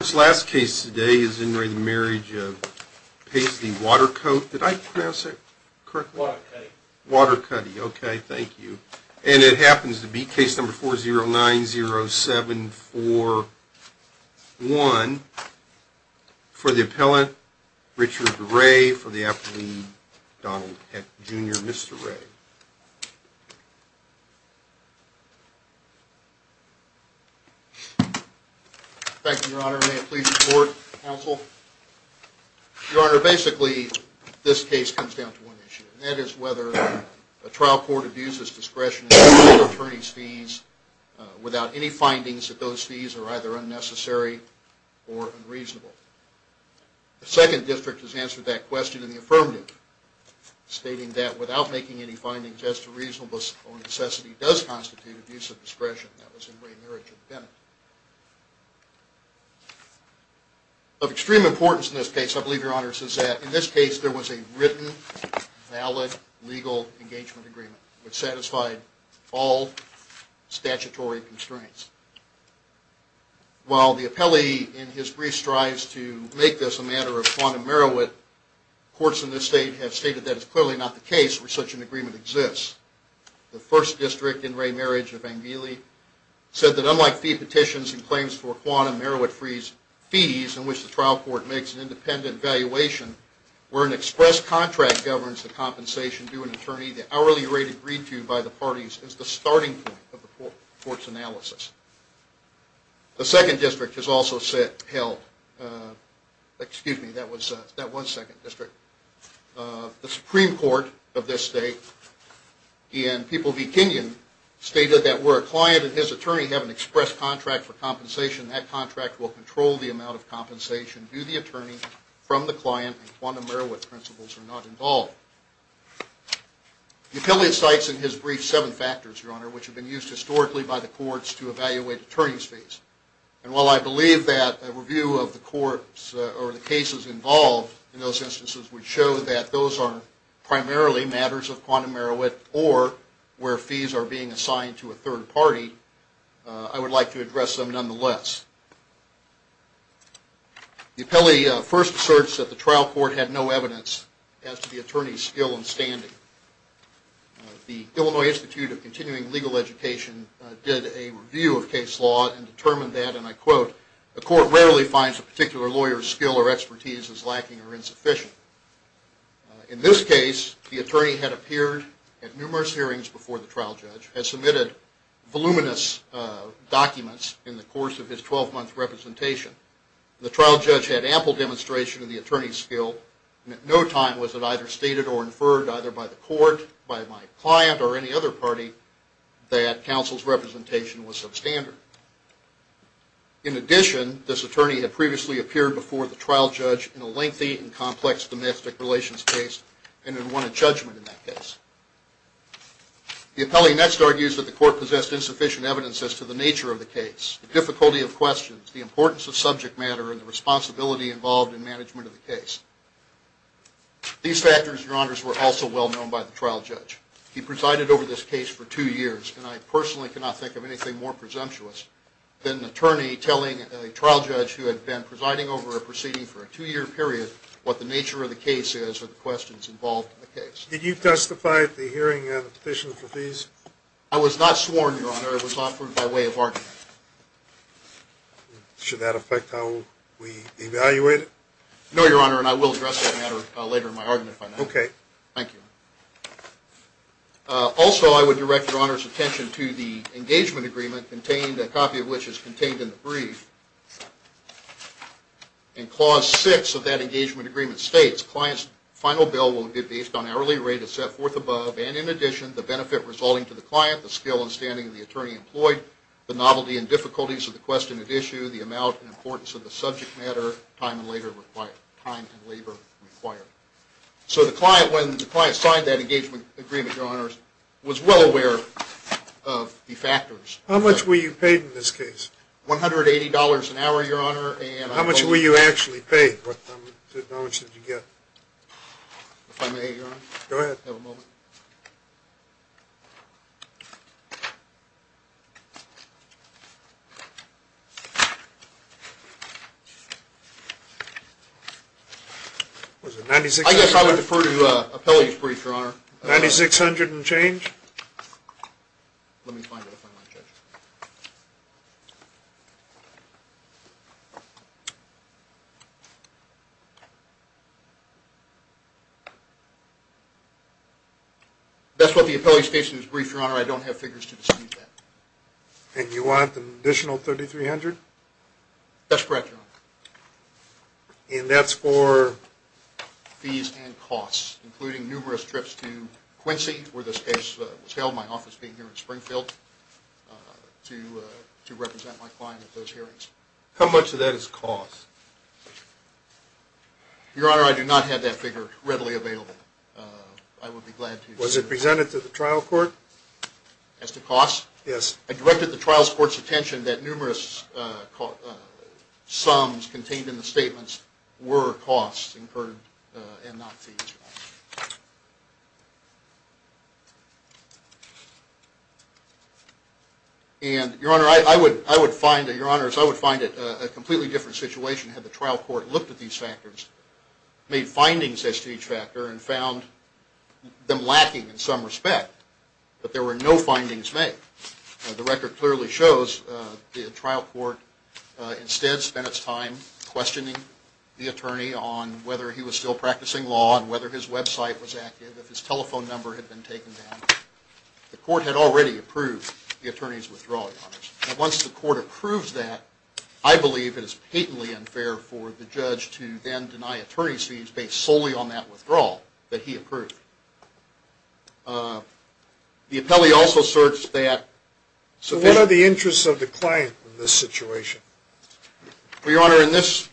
This last case today is in re the Marriage of Paisley Waterkote, did I pronounce it correctly? Watercutty. Watercutty, okay, thank you. And it happens to be case number 4090741, for the appellant, Richard Ray, for the appellee, Donald Heck Jr., Mr. Ray. Thank you, Your Honor. May it please the court, counsel. Your Honor, basically, this case comes down to one issue, and that is whether a trial court abuses discretionary attorney's fees without any findings that those fees are either unnecessary or unreasonable. The second district has answered that question in the affirmative, stating that without making any findings as to reasonableness or necessity does constitute abuse of discretion. That was in re Marriage of Bennett. Of extreme importance in this case, I believe, Your Honor, is that in this case there was a written, valid, legal engagement agreement which satisfied all statutory constraints. While the appellee in his brief strives to make this a matter of quantum meriwit, courts in this state have stated that it's clearly not the case where such an agreement exists. The first district in re Marriage of Angeli said that unlike fee petitions and claims for quantum meriwit fees in which the trial court makes an independent valuation, where an express contract governs the compensation due an attorney, the hourly rate agreed to by the parties is the starting point of the court's analysis. The second district has also held – excuse me, that was second district. The Supreme Court of this state in People v. Kenyon stated that where a client and his attorney have an express contract for compensation, that contract will control the amount of compensation due the attorney from the client and quantum meriwit principles are not involved. The appellee cites in his brief seven factors, Your Honor, which have been used historically by the courts to evaluate attorney's fees. And while I believe that a review of the courts or the cases involved in those instances would show that those are primarily matters of quantum meriwit or where fees are being assigned to a third party, I would like to address them nonetheless. The appellee first asserts that the trial court had no evidence as to the attorney's skill and standing. The Illinois Institute of Continuing Legal Education did a review of case law and determined that, and I quote, a court rarely finds a particular lawyer's skill or expertise as lacking or insufficient. In this case, the attorney had appeared at numerous hearings before the trial judge, had submitted voluminous documents in the course of his 12-month representation. The trial judge had ample demonstration of the attorney's skill and at no time was it either stated or inferred either by the court, by my client or any other party, that counsel's representation was substandard. In addition, this attorney had previously appeared before the trial judge in a lengthy and complex domestic relations case and had won a judgment in that case. The appellee next argues that the court possessed insufficient evidence as to the nature of the case, the difficulty of questions, the importance of subject matter, and the responsibility involved in management of the case. These factors, Your Honors, were also well known by the trial judge. He presided over this case for two years, and I personally cannot think of anything more presumptuous than an attorney telling a trial judge who had been presiding over a proceeding for a two-year period what the nature of the case is or the questions involved in the case. Did you testify at the hearing on the petition for fees? I was not sworn, Your Honor. It was offered by way of argument. Should that affect how we evaluate it? No, Your Honor, and I will address that matter later in my argument. Okay. Thank you. Also, I would direct Your Honor's attention to the engagement agreement, a copy of which is contained in the brief. In Clause 6 of that engagement agreement states, Client's final bill will be based on hourly rate as set forth above and, in addition, the benefit resulting to the client, the skill and standing of the attorney employed, the novelty and difficulties of the question at issue, the amount and importance of the subject matter, time and labor required. So the client, when the client signed that engagement agreement, Your Honor, was well aware of the factors. How much were you paid in this case? $180 an hour, Your Honor. How much were you actually paid? How much did you get? If I may, Your Honor? Go ahead. Have a moment. Was it 9600? I guess I would defer to appellate's brief, Your Honor. 9600 and change? Let me find it if I might, Judge. That's what the appellate's case is brief, Your Honor. I don't have figures to dispute that. And you want an additional 3300? That's correct, Your Honor. And that's for? Fees and costs, including numerous trips to Quincy, where this case was held, my office being here in Springfield, to represent my client at those hearings. How much of that is cost? Your Honor, I do not have that figure readily available. I would be glad to. Was it presented to the trial court? As to cost? Yes. I directed the trial court's attention that numerous sums contained in the statements were costs incurred and not fees. And, Your Honor, I would find it a completely different situation had the trial court looked at these factors, made findings as to each factor, and found them lacking in some respect. But there were no findings made. The record clearly shows the trial court instead spent its time questioning the attorney on whether he was still practicing law and whether his website was active, if his telephone number had been taken down. The court had already approved the attorney's withdrawal, Your Honor. Now, once the court approves that, I believe it is patently unfair for the judge to then deny attorney's fees based solely on that withdrawal that he approved. The appellee also asserts that sufficient... So what are the interests of the client in this situation? Well, Your Honor, in this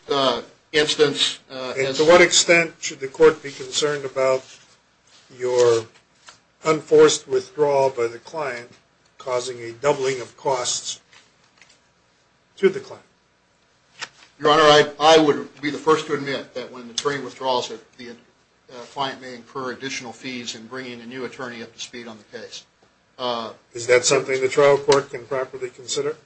instance... And to what extent should the court be concerned about your unforced withdrawal by the client causing a doubling of costs to the client? Your Honor, I would be the first to admit that when the attorney withdraws that the client may incur additional fees in bringing a new attorney up to speed on the case. Is that something the trial court can properly consider?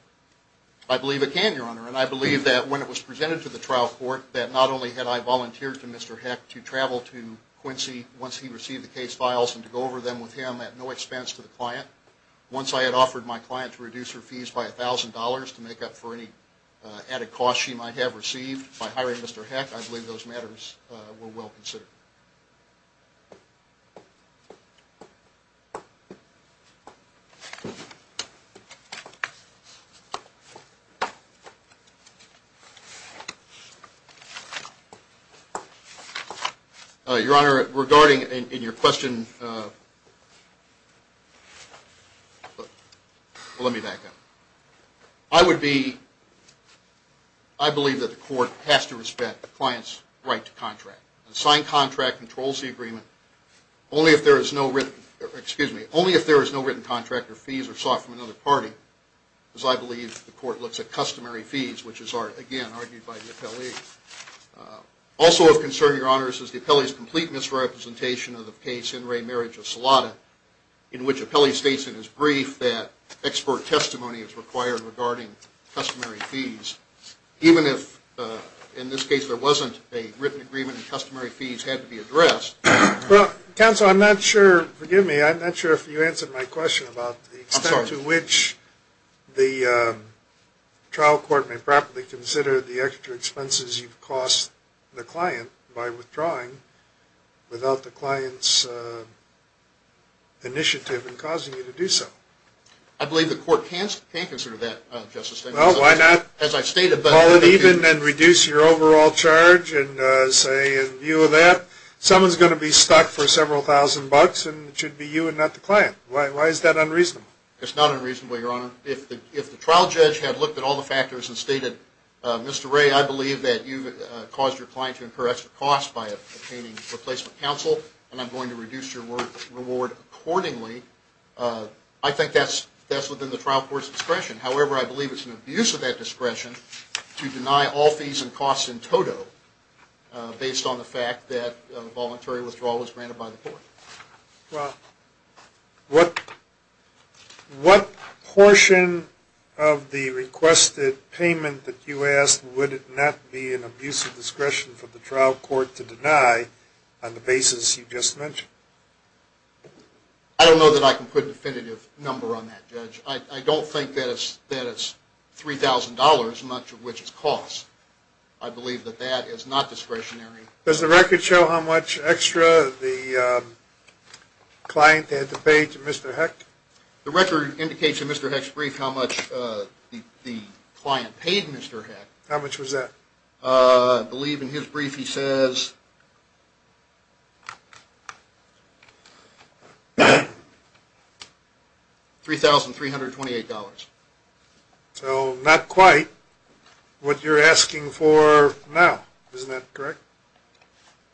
I believe it can, Your Honor, and I believe that when it was presented to the trial court that not only had I volunteered to Mr. Heck to travel to Quincy once he received the case files and to go over them with him at no expense to the client, once I had offered my client to reduce her fees by $1,000 to make up for any added costs she might have received by hiring Mr. Heck, those matters were well considered. Your Honor, regarding in your question... Let me back up. I would be... I believe that the court has to respect the client's right to contract. A signed contract controls the agreement only if there is no written contract or fees are sought from another party, as I believe the court looks at customary fees, which is, again, argued by the appellee. Also of concern, Your Honor, is the appellee's complete misrepresentation of the case, In Re Marriage of Salada, in which the appellee states in his case that no written contract or fee is required regarding customary fees, even if, in this case, there wasn't a written agreement and customary fees had to be addressed. Counsel, I'm not sure... Forgive me, I'm not sure if you answered my question about the extent to which the trial court may properly consider the extra expenses you've cost the client by withdrawing without the client's initiative in causing you to do so. I believe the court can consider that, Justice Stengel. Well, why not? As I've stated... Call it even and reduce your overall charge and say, in view of that, someone's going to be stuck for several thousand bucks and it should be you and not the client. Why is that unreasonable? It's not unreasonable, Your Honor. If the trial judge had looked at all the factors and stated, Mr. Ray, I believe that you've caused your client to incur extra costs by obtaining and I'm going to reduce your reward accordingly, I think that's within the trial court's discretion. However, I believe it's an abuse of that discretion to deny all fees and costs in total based on the fact that voluntary withdrawal was granted by the court. Well, what portion of the requested payment that you asked, would it not be an abuse of discretion for the trial court to deny on the basis you just mentioned? I don't know that I can put a definitive number on that, Judge. I don't think that it's $3,000, much of which is costs. I believe that that is not discretionary. Does the record show how much extra the client had to pay to Mr. Heck? The record indicates in Mr. Heck's brief how much the client paid Mr. Heck. How much was that? I believe in his brief he says $3,328. So not quite what you're asking for now. Isn't that correct?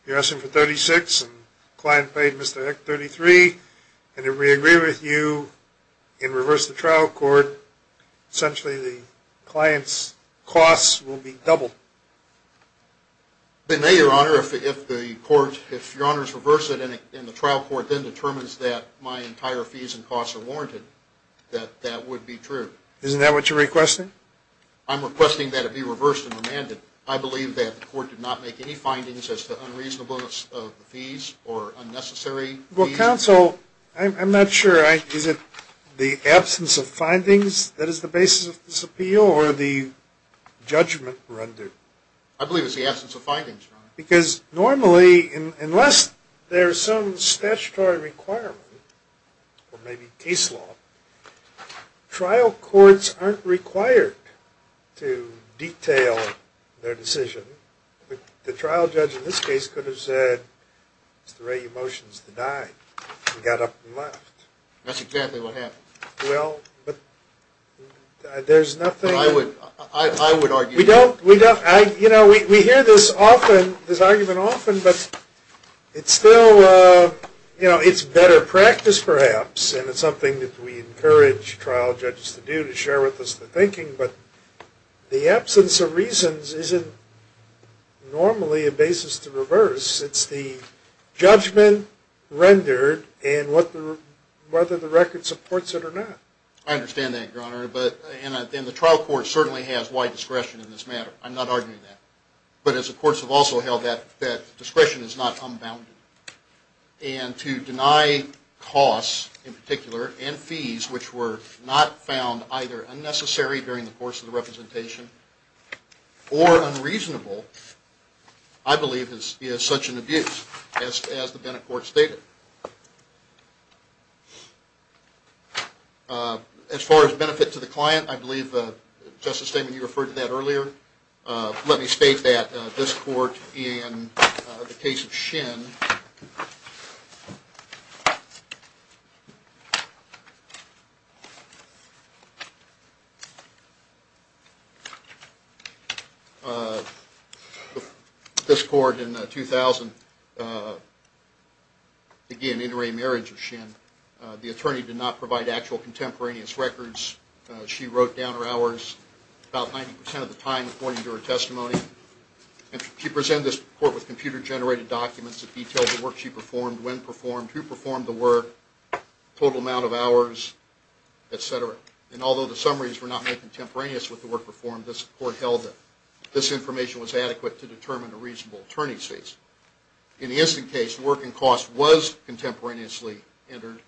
You're asking for $36,000 and the client paid Mr. Heck $33,000 and if we agree with you and reverse the trial court, essentially the client's costs will be doubled. It may, Your Honor, if the court, if Your Honor's reverse it and the trial court then determines that my entire fees and costs are warranted, that that would be true. Isn't that what you're requesting? I'm requesting that it be reversed and remanded. I believe that the court did not make any findings as to unreasonableness of the fees or unnecessary fees. Well, counsel, I'm not sure. Is it the absence of findings that is the basis of this appeal or the judgment rendered? I believe it's the absence of findings, Your Honor. Because normally unless there's some statutory requirement or maybe case law, trial courts aren't required to detail their decision. The trial judge in this case could have said it's the right emotions to die and got up and left. That's exactly what happened. Well, but there's nothing. I would argue. We don't, you know, we hear this often, this argument often, but it's still, you know, it's better practice perhaps and it's something that we encourage trial judges to do to share with us the thinking. But the absence of reasons isn't normally a basis to reverse. It's the judgment rendered and whether the record supports it or not. I understand that, Your Honor. And the trial court certainly has wide discretion in this matter. I'm not arguing that. But as the courts have also held that, that discretion is not unbounded. And to deny costs in particular and fees which were not found either unnecessary during the course of the representation or unreasonable, I believe is such an abuse as the Bennett court stated. As far as benefit to the client, I believe, Justice Stegman, you referred to that earlier. Let me state that. This court in the case of Shinn, this court in 2000, again, intermarriage of Shinn, the attorney did not provide actual contemporaneous records. She wrote down her hours about 90% of the time according to her testimony. And she presented this court with computer-generated documents that detailed the work she performed, when performed, who performed the work, total amount of hours, et cetera. And although the summaries were not made contemporaneous with the work performed, this court held that this information was adequate to determine a reasonable attorney's fees. In the instant case, work and cost was contemporaneously entered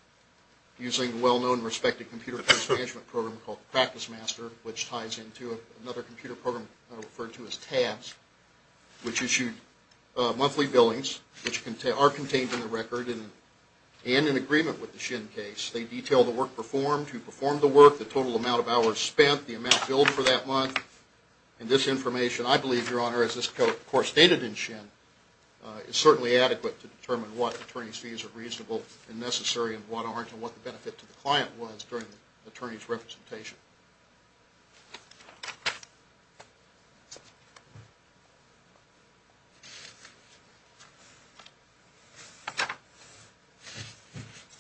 using a well-known respected computer program called Practice Master, which ties into another computer program referred to as TABS, which issued monthly billings, which are contained in the record and in agreement with the Shinn case. They detail the work performed, who performed the work, the total amount of hours spent, the amount billed for that month. And this information, I believe, Your Honor, as this court stated in Shinn, is certainly adequate to determine what attorney's fees are reasonable and necessary and what aren't and what the benefit to the client was during the attorney's representation.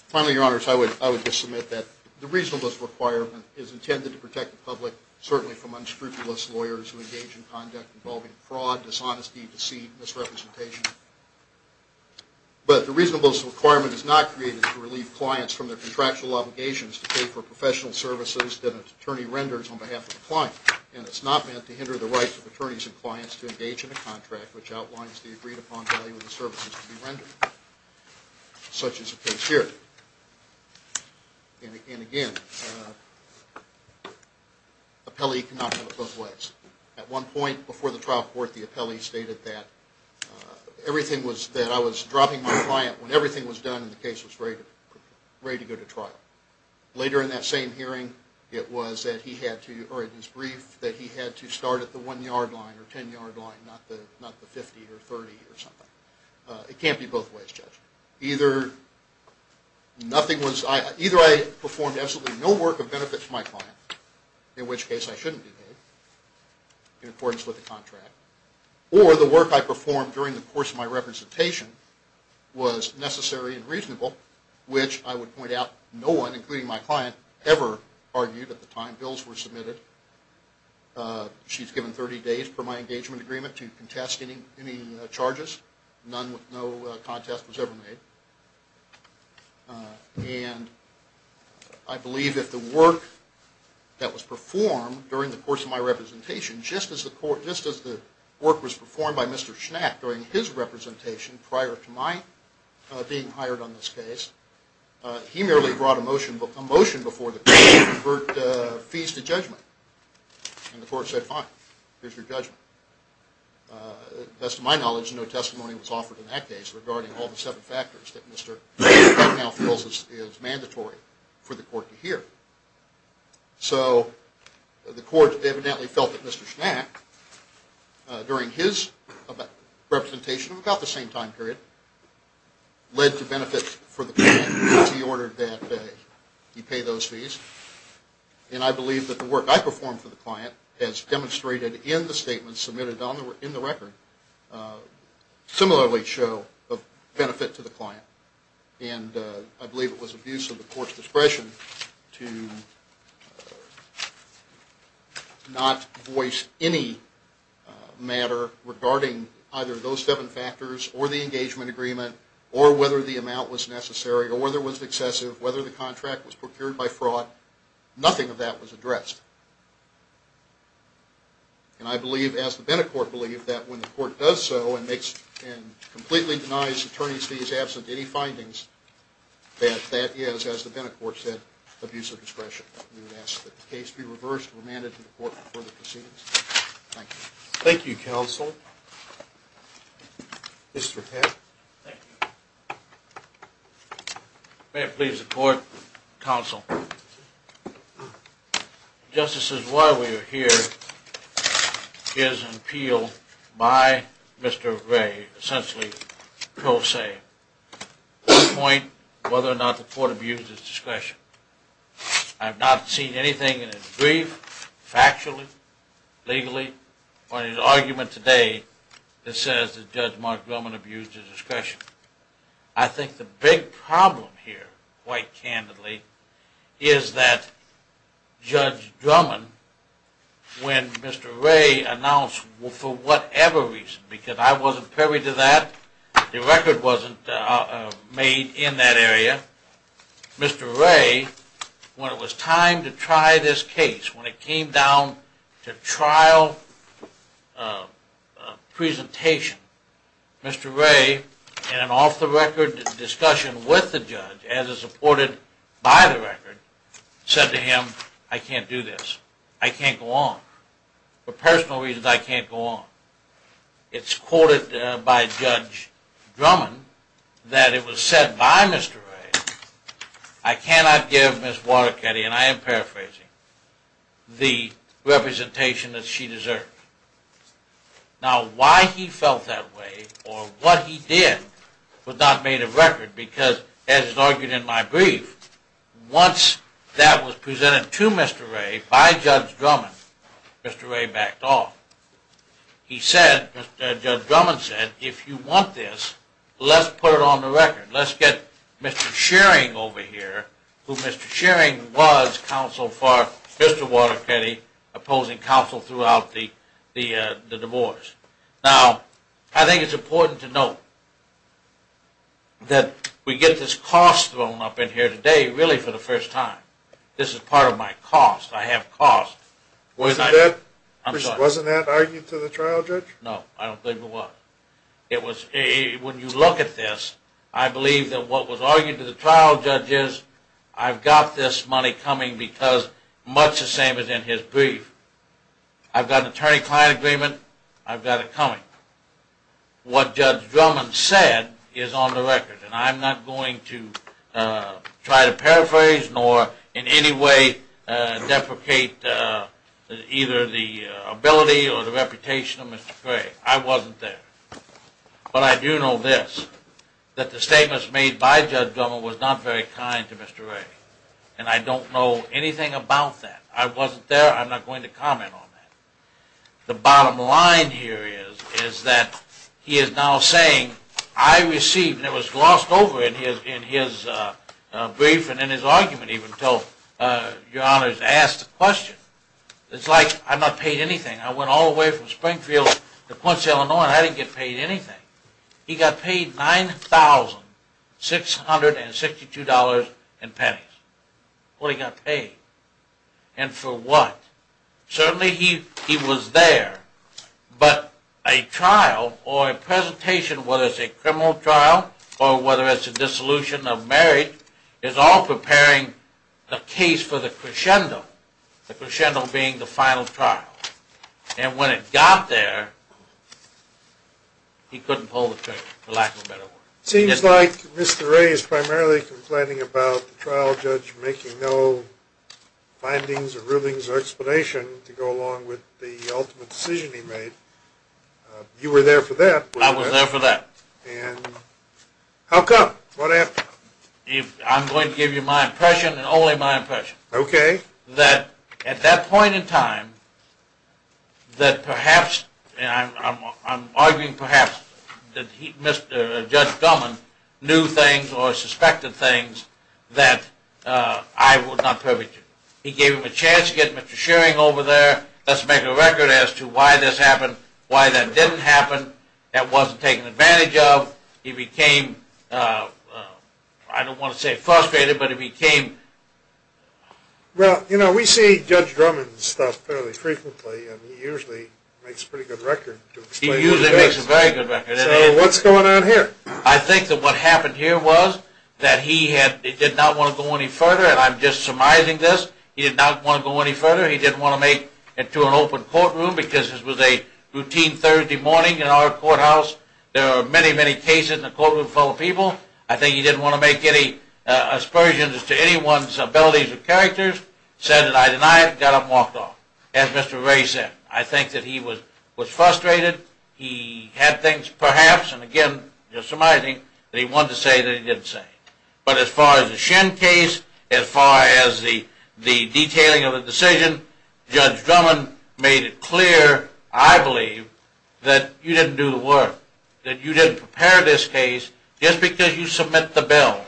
Finally, Your Honors, I would just submit that the reasonableness requirement is intended to protect the public, certainly from unscrupulous lawyers who engage in conduct involving fraud, dishonesty, deceit, misrepresentation. But the reasonableness requirement is not created to relieve clients from their contractual obligations to pay for professional services that an attorney renders on behalf of a client. And it's not meant to hinder the rights of attorneys and clients to engage in a contract which outlines the agreed-upon value of the services to be rendered, such as the case here. And again, appellee cannot go both ways. At one point before the trial court, the appellee stated that everything was that I was dropping my client when everything was done and the case was ready to go to trial. Later in that same hearing, it was that he had to, or in his brief, that he had to start at the 1-yard line or 10-yard line, not the 50 or 30 or something. It can't be both ways, Judge. Either I performed absolutely no work of benefit to my client, in which case I shouldn't be paid in accordance with the contract, or the work I performed during the course of my representation was necessary and reasonable, which I would point out no one, including my client, ever argued at the time bills were submitted. She's given 30 days per my engagement agreement to contest any charges. No contest was ever made. during the course of my representation, just as the work was performed by Mr. Schnack during his representation prior to my being hired on this case, he merely brought a motion before the court to convert fees to judgment. And the court said, fine, here's your judgment. As to my knowledge, no testimony was offered in that case regarding all the seven factors that Mr. Schnack now feels is mandatory for the court to hear. So the court evidently felt that Mr. Schnack, during his representation of about the same time period, led to benefits for the client because he ordered that he pay those fees. And I believe that the work I performed for the client as demonstrated in the statement submitted in the record similarly show a benefit to the client. And I believe it was abuse of the court's discretion to not voice any matter regarding either those seven factors or the engagement agreement or whether the amount was necessary or whether it was excessive, whether the contract was procured by fraud. Nothing of that was addressed. And I believe, as the Bennett Court believed, that when the court does so and completely denies attorneys fees absent any findings, that that is, as the Bennett Court said, abuse of discretion. We would ask that the case be reversed and remanded to the court for further proceedings. Thank you. Thank you, counsel. Mr. Peck. Thank you. May it please the court, counsel. Justices, why we are here is an appeal by Mr. Gray, essentially pro se, to point whether or not the court abused his discretion. I have not seen anything in his brief, factually, legally, or in his argument today that says that Judge Mark Drummond abused his discretion. I think the big problem here, quite candidly, is that Judge Drummond, when Mr. Gray announced, for whatever reason, because I wasn't privy to that, the record wasn't made in that area, Mr. Gray, when it was time to try this case, when it came down to trial presentation, Mr. Gray, in an off-the-record discussion with the judge, as is reported by the record, said to him, I can't do this. I can't go on. For personal reasons, I can't go on. It's quoted by Judge Drummond that it was said by Mr. Gray, I cannot give Ms. Waterkety, and I am paraphrasing, the representation that she deserved. Now, why he felt that way, or what he did, was not made of record, because, as is argued in my brief, once that was presented to Mr. Gray by Judge Drummond, Mr. Gray backed off. He said, Judge Drummond said, if you want this, let's put it on the record. Let's get Mr. Shearing over here, who Mr. Shearing was counsel for Mr. Waterkety, opposing counsel throughout the divorce. Now, I think it's important to note that we get this cost thrown up in here today, really for the first time. This is part of my cost. I have cost. Wasn't that argued to the trial judge? No, I don't think it was. When you look at this, I believe that what was argued to the trial judge is, I've got this money coming because, much the same as in his brief. I've got an attorney-client agreement. I've got it coming. What Judge Drummond said is on the record, and I'm not going to try to paraphrase, nor in any way deprecate either the ability or the reputation of Mr. Gray. I wasn't there. But I do know this, that the statements made by Judge Drummond was not very kind to Mr. Gray. And I don't know anything about that. I wasn't there. I'm not going to comment on that. The bottom line here is, is that he is now saying, I received, and it was glossed over in his brief and in his argument even, until Your Honor has asked the question, it's like I'm not paid anything. I went all the way from Springfield to Quincy, Illinois, and I didn't get paid anything. He got paid $9,662 in pennies. What he got paid, and for what? Certainly he was there, but a trial or a presentation, whether it's a criminal trial or whether it's a dissolution of marriage, is all preparing a case for the crescendo, the crescendo being the final trial. And when it got there, he couldn't pull the trigger, for lack of a better word. It seems like Mr. Gray is primarily complaining about the trial judge making no findings or rulings or explanation to go along with the ultimate decision he made. You were there for that. I was there for that. How come? I'm going to give you my impression and only my impression, that at that point in time, that perhaps, and I'm arguing perhaps, that Judge Duhman knew things or suspected things that I would not perpetuate. He gave him a chance to get Mr. Schering over there, let's make a record as to why this happened, why that didn't happen, that wasn't taken advantage of. He became, I don't want to say frustrated, but he became... Well, you know, we see Judge Duhman's stuff fairly frequently and he usually makes a pretty good record He usually makes a very good record. So what's going on here? I think that what happened here was that he did not want to go any further and I'm just surmising this, he did not want to go any further, he didn't want to make it to an open courtroom because this was a routine Thursday morning in our courthouse, there are many, many cases in the courtroom full of people, I think he didn't want to make any aspersions to anyone's abilities or characters, said that I deny it, got up and walked off. As Mr. Ray said, I think that he was frustrated, he had things perhaps, and again, just surmising, that he wanted to say that he didn't say. But as far as the Shen case, as far as the detailing of the decision, Judge Drummond made it clear, I believe, that you didn't do the work, that you didn't prepare this case, just because you submit the bill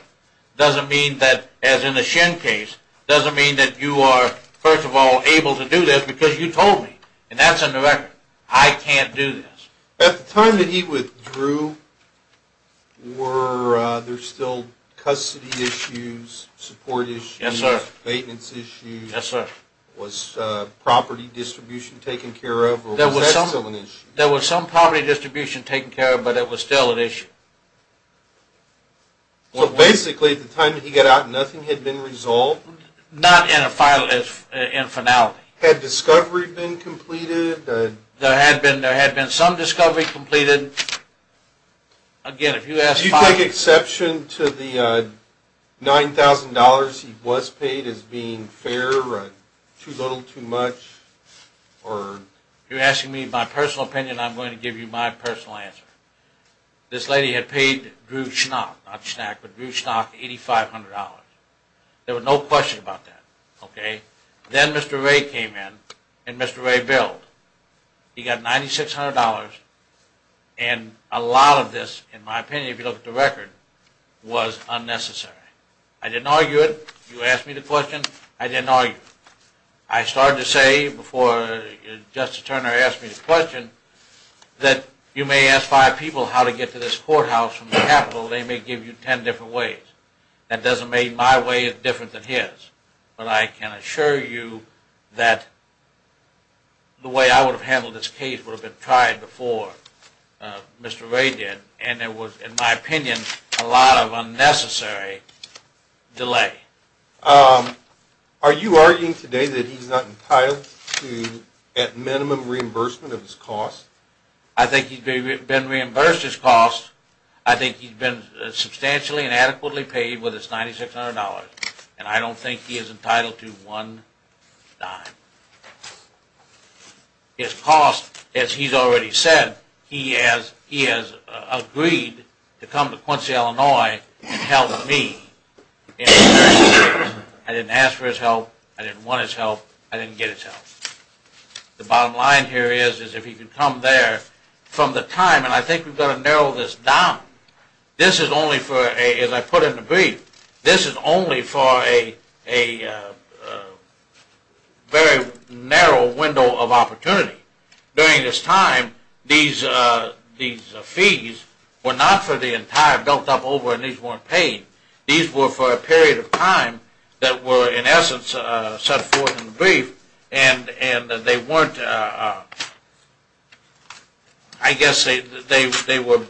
doesn't mean that, as in the Shen case, doesn't mean that you are, first of all, able to do this because you told me, and that's in the record. I can't do this. At the time that he withdrew, were there still custody issues, support issues, maintenance issues, was property distribution taken care of, or was that still an issue? There was some property distribution taken care of, but it was still an issue. So basically, at the time that he got out, nothing had been resolved? Not in finality. Had discovery been completed? There had been some discovery completed. Again, if you ask... Did you take exception to the $9,000 he was paid as being fair, too little, too much? If you're asking me my personal opinion, I'm going to give you my personal answer. This lady had paid Drew Schnock, not Schnack, but Drew Schnock $8,500. There was no question about that. Then Mr. Ray came in, and Mr. Ray billed. He got $9,600, and a lot of this, in my opinion, if you look at the record, was unnecessary. I didn't argue it. You asked me the question. I didn't argue it. I started to say, before Justice Turner asked me the question, that you may ask five people how to get to this courthouse from the Capitol. They may give you ten different ways. That doesn't mean my way is different than his. But I can assure you that the way I would have handled this case would have been tried before Mr. Ray did, and it was, in my opinion, a lot of unnecessary delay. Are you arguing today that he's not entitled to at minimum reimbursement of his cost? I think he's been reimbursed his cost. I think he's been substantially and adequately paid with his $9,600, and I don't think he is entitled to one dime. His cost, as he's already said, he has agreed to come to Quincy, Illinois and help me in this case. I didn't ask for his help. I didn't want his help. I didn't get his help. The bottom line here is if he can come there from the time, and I think we've got to narrow this down, this is only for, as I put in the brief, this is only for a very narrow window of opportunity. During this time, these fees were not for the entire built up over, and these weren't paid. These were for a period of time that were, in essence, set forth in the brief, and they weren't, I guess they were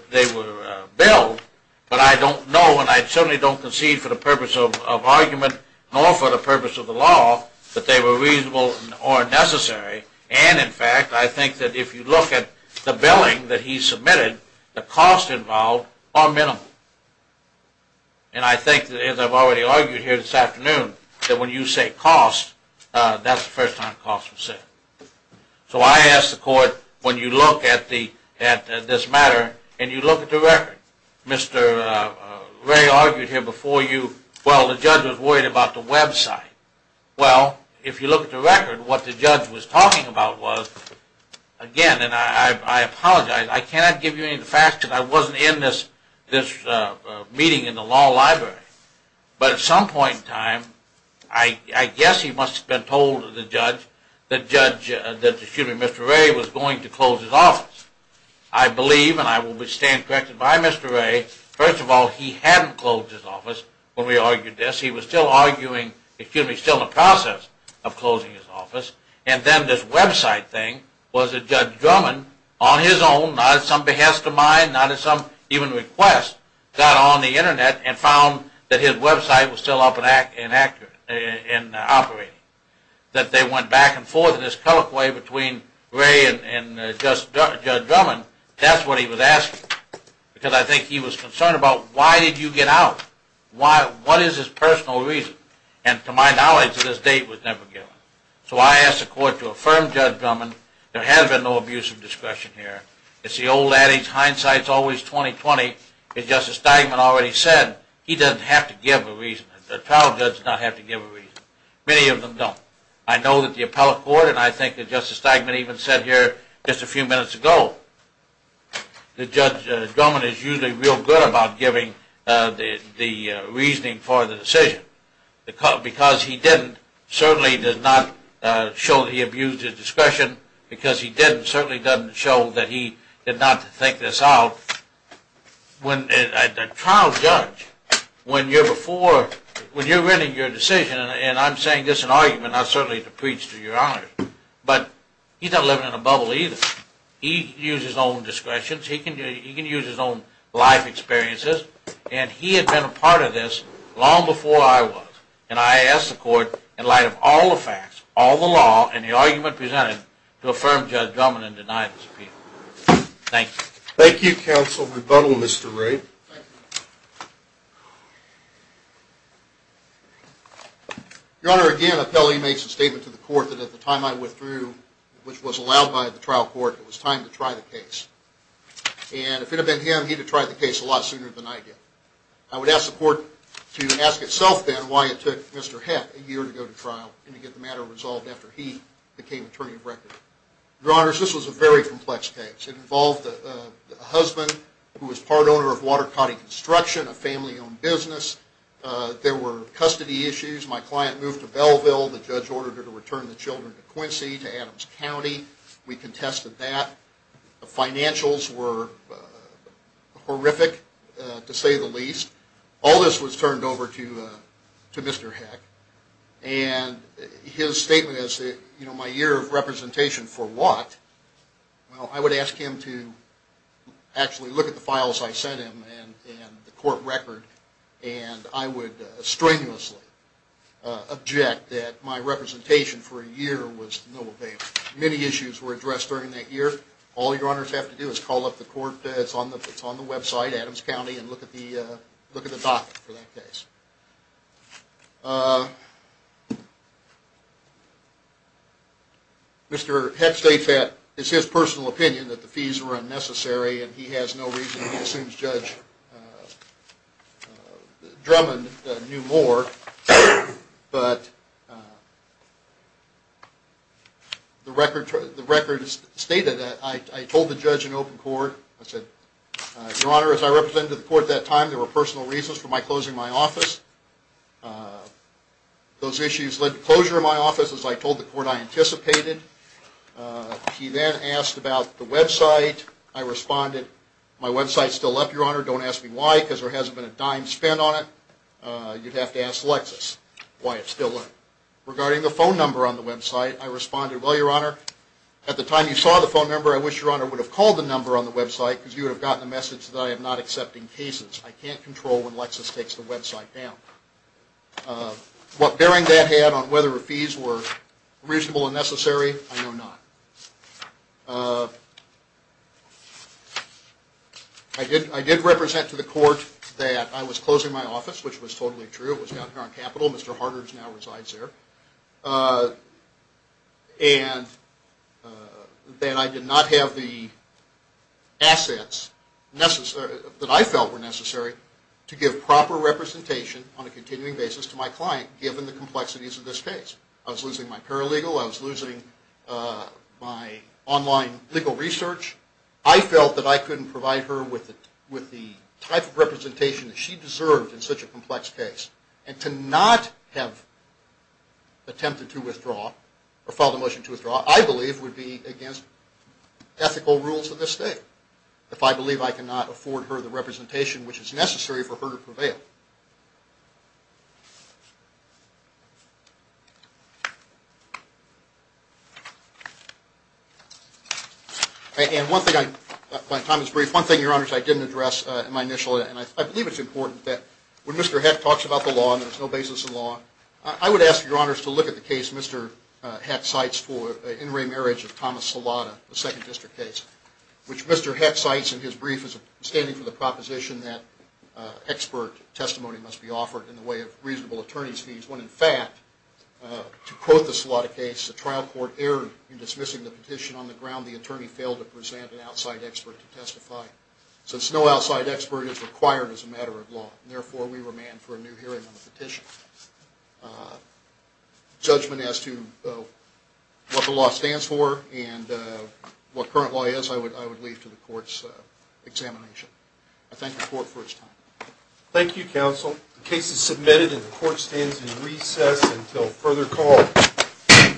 billed, but I don't know, and I certainly don't concede for the purpose of argument, nor for the purpose of the law, that they were reasonable or necessary, and in fact, if you look at the billing that he submitted, the costs involved are minimal. And I think, as I've already argued here this afternoon, that when you say cost, that's the first time cost was set. So I ask the court, when you look at this matter, and you look at the record, Mr. Ray argued here before you, well, the judge was worried about the website. Well, if you look at the record, what the judge was talking about was, again, and I apologize, I cannot give you any facts, because I wasn't in this meeting in the law library, but at some point in time, I guess he must have been told the judge that Mr. Ray was going to close his office. I believe, and I will stand corrected by Mr. Ray, first of all, he hadn't closed his office when we argued this. He was still arguing, excuse me, still in the process of closing his office. And then this website thing, was that Judge Drummond, on his own, not at some behest of mine, not at some even request, got on the internet and found that his website was still up and operating. That they went back and forth in this colloquy between Ray and Judge Drummond. That's what he was asking, because I think he was concerned about, why did you get out? What is his personal reason? And to my knowledge, this date was never given. So I asked the court to affirm Judge Drummond, there has been no abuse of discretion here. It's the old adage, hindsight's always 20-20, as Justice Steigman already said, he doesn't have to give a reason. A trial judge does not have to give a reason. Many of them don't. I know that the appellate court, and I think that Justice Steigman even said here, just a few minutes ago, that Judge Drummond is usually real good about giving the reason, because he didn't certainly did not show that he abused his discretion, because he didn't, certainly doesn't show that he did not think this out. When a trial judge, when you're before, when you're writing your decision, and I'm saying this in argument, not certainly to preach to your honor, but he's not living in a bubble either. He uses his own discretions, he can use his own life experiences, and he had been a part of this long before I was, and I asked the court in light of all the facts, all the law, and the argument presented, to affirm Judge Drummond and deny his appeal. Thank you. Thank you, counsel. Rebuttal, Mr. Wray. Your Honor, again, appellee makes a statement to the court that at the time I withdrew, which was allowed by the trial court, it was time to try the case. And if it had been him, he'd have tried the case a lot sooner than I did. I would ask the court to ask itself then why it took Mr. Heck a year to go to trial and to get the matter resolved after he became attorney of record. Your Honor, this was a very complex case. It involved a husband who was part owner of Water Coddy Construction, a family owned business. There were custody issues. My client moved to Belleville. The judge ordered her to return the children to Quincy, to Adams County. We contested that. The financials were horrific to say the least. All this was turned over to Mr. Heck. And his statement is my year of representation for what? Well, I would ask him to actually look at the files I sent him and the court record, and I would strenuously object that my representation for a year was no avail. Many issues were addressed during that year. All your honors have to do is call up the court. It's on the website, Adams County, and look at the document for that case. Mr. Heck states that it's his personal opinion that the fees were unnecessary and he has no reason to assume Judge Drummond knew more. But the court record stated that I told the judge in open court, I said, your honor, as I represented the court at that time, there were personal reasons for my closing my office. Those issues led to closure of my office, as I told the court I anticipated. He then asked about the website. I responded, my website's still up, your honor. Don't ask me why, because there hasn't been a dime spent on it. You'd have to ask Lexis why it's still up. Regarding the phone number on the website, at the time you saw the phone number, I wish your honor would have called the number on the website, because you would have gotten the message that I am not accepting cases. I can't control when Lexis takes the website down. What bearing that had on whether the fees were reasonable and necessary, I know not. I did represent to the court that I was closing my office, which was totally true. It was down here on Capitol. Mr. Harder now resides there. And that I did not have the assets that I felt were necessary to give proper representation on a continuing basis to my client, given the complexities of this case. I was losing my paralegal. I was losing my online legal research. I felt that I couldn't provide her with the type of representation that she deserved in such a complex case. And to not have attempted to withdraw, or filed a motion to withdraw, I believe would be against ethical rules of this state, if I believe I cannot afford her the representation which is necessary for her to prevail. And one thing I, my time is brief, one thing your honors I didn't address in my initial, and I believe it's important, that when Mr. Heck talks about the law, and there's no basis in law, I would ask your honors to look at the case Mr. Heck cites for an in-ray marriage of Thomas Salata, the second district case, which Mr. Heck cites in his brief as standing for the proposition that expert testimony must be offered in the way of reasonable attorney's fees, when in fact, to quote the Salata case, the trial court erred in dismissing the petition on the ground the attorney failed to present an outside expert to testify. Since no outside expert is required as a matter of the petition. Judgment as to what the law stands for and what current law is I would leave to the court's examination. I thank the court for it's time. Thank you counsel. The case is submitted and the court stands in recess until further call.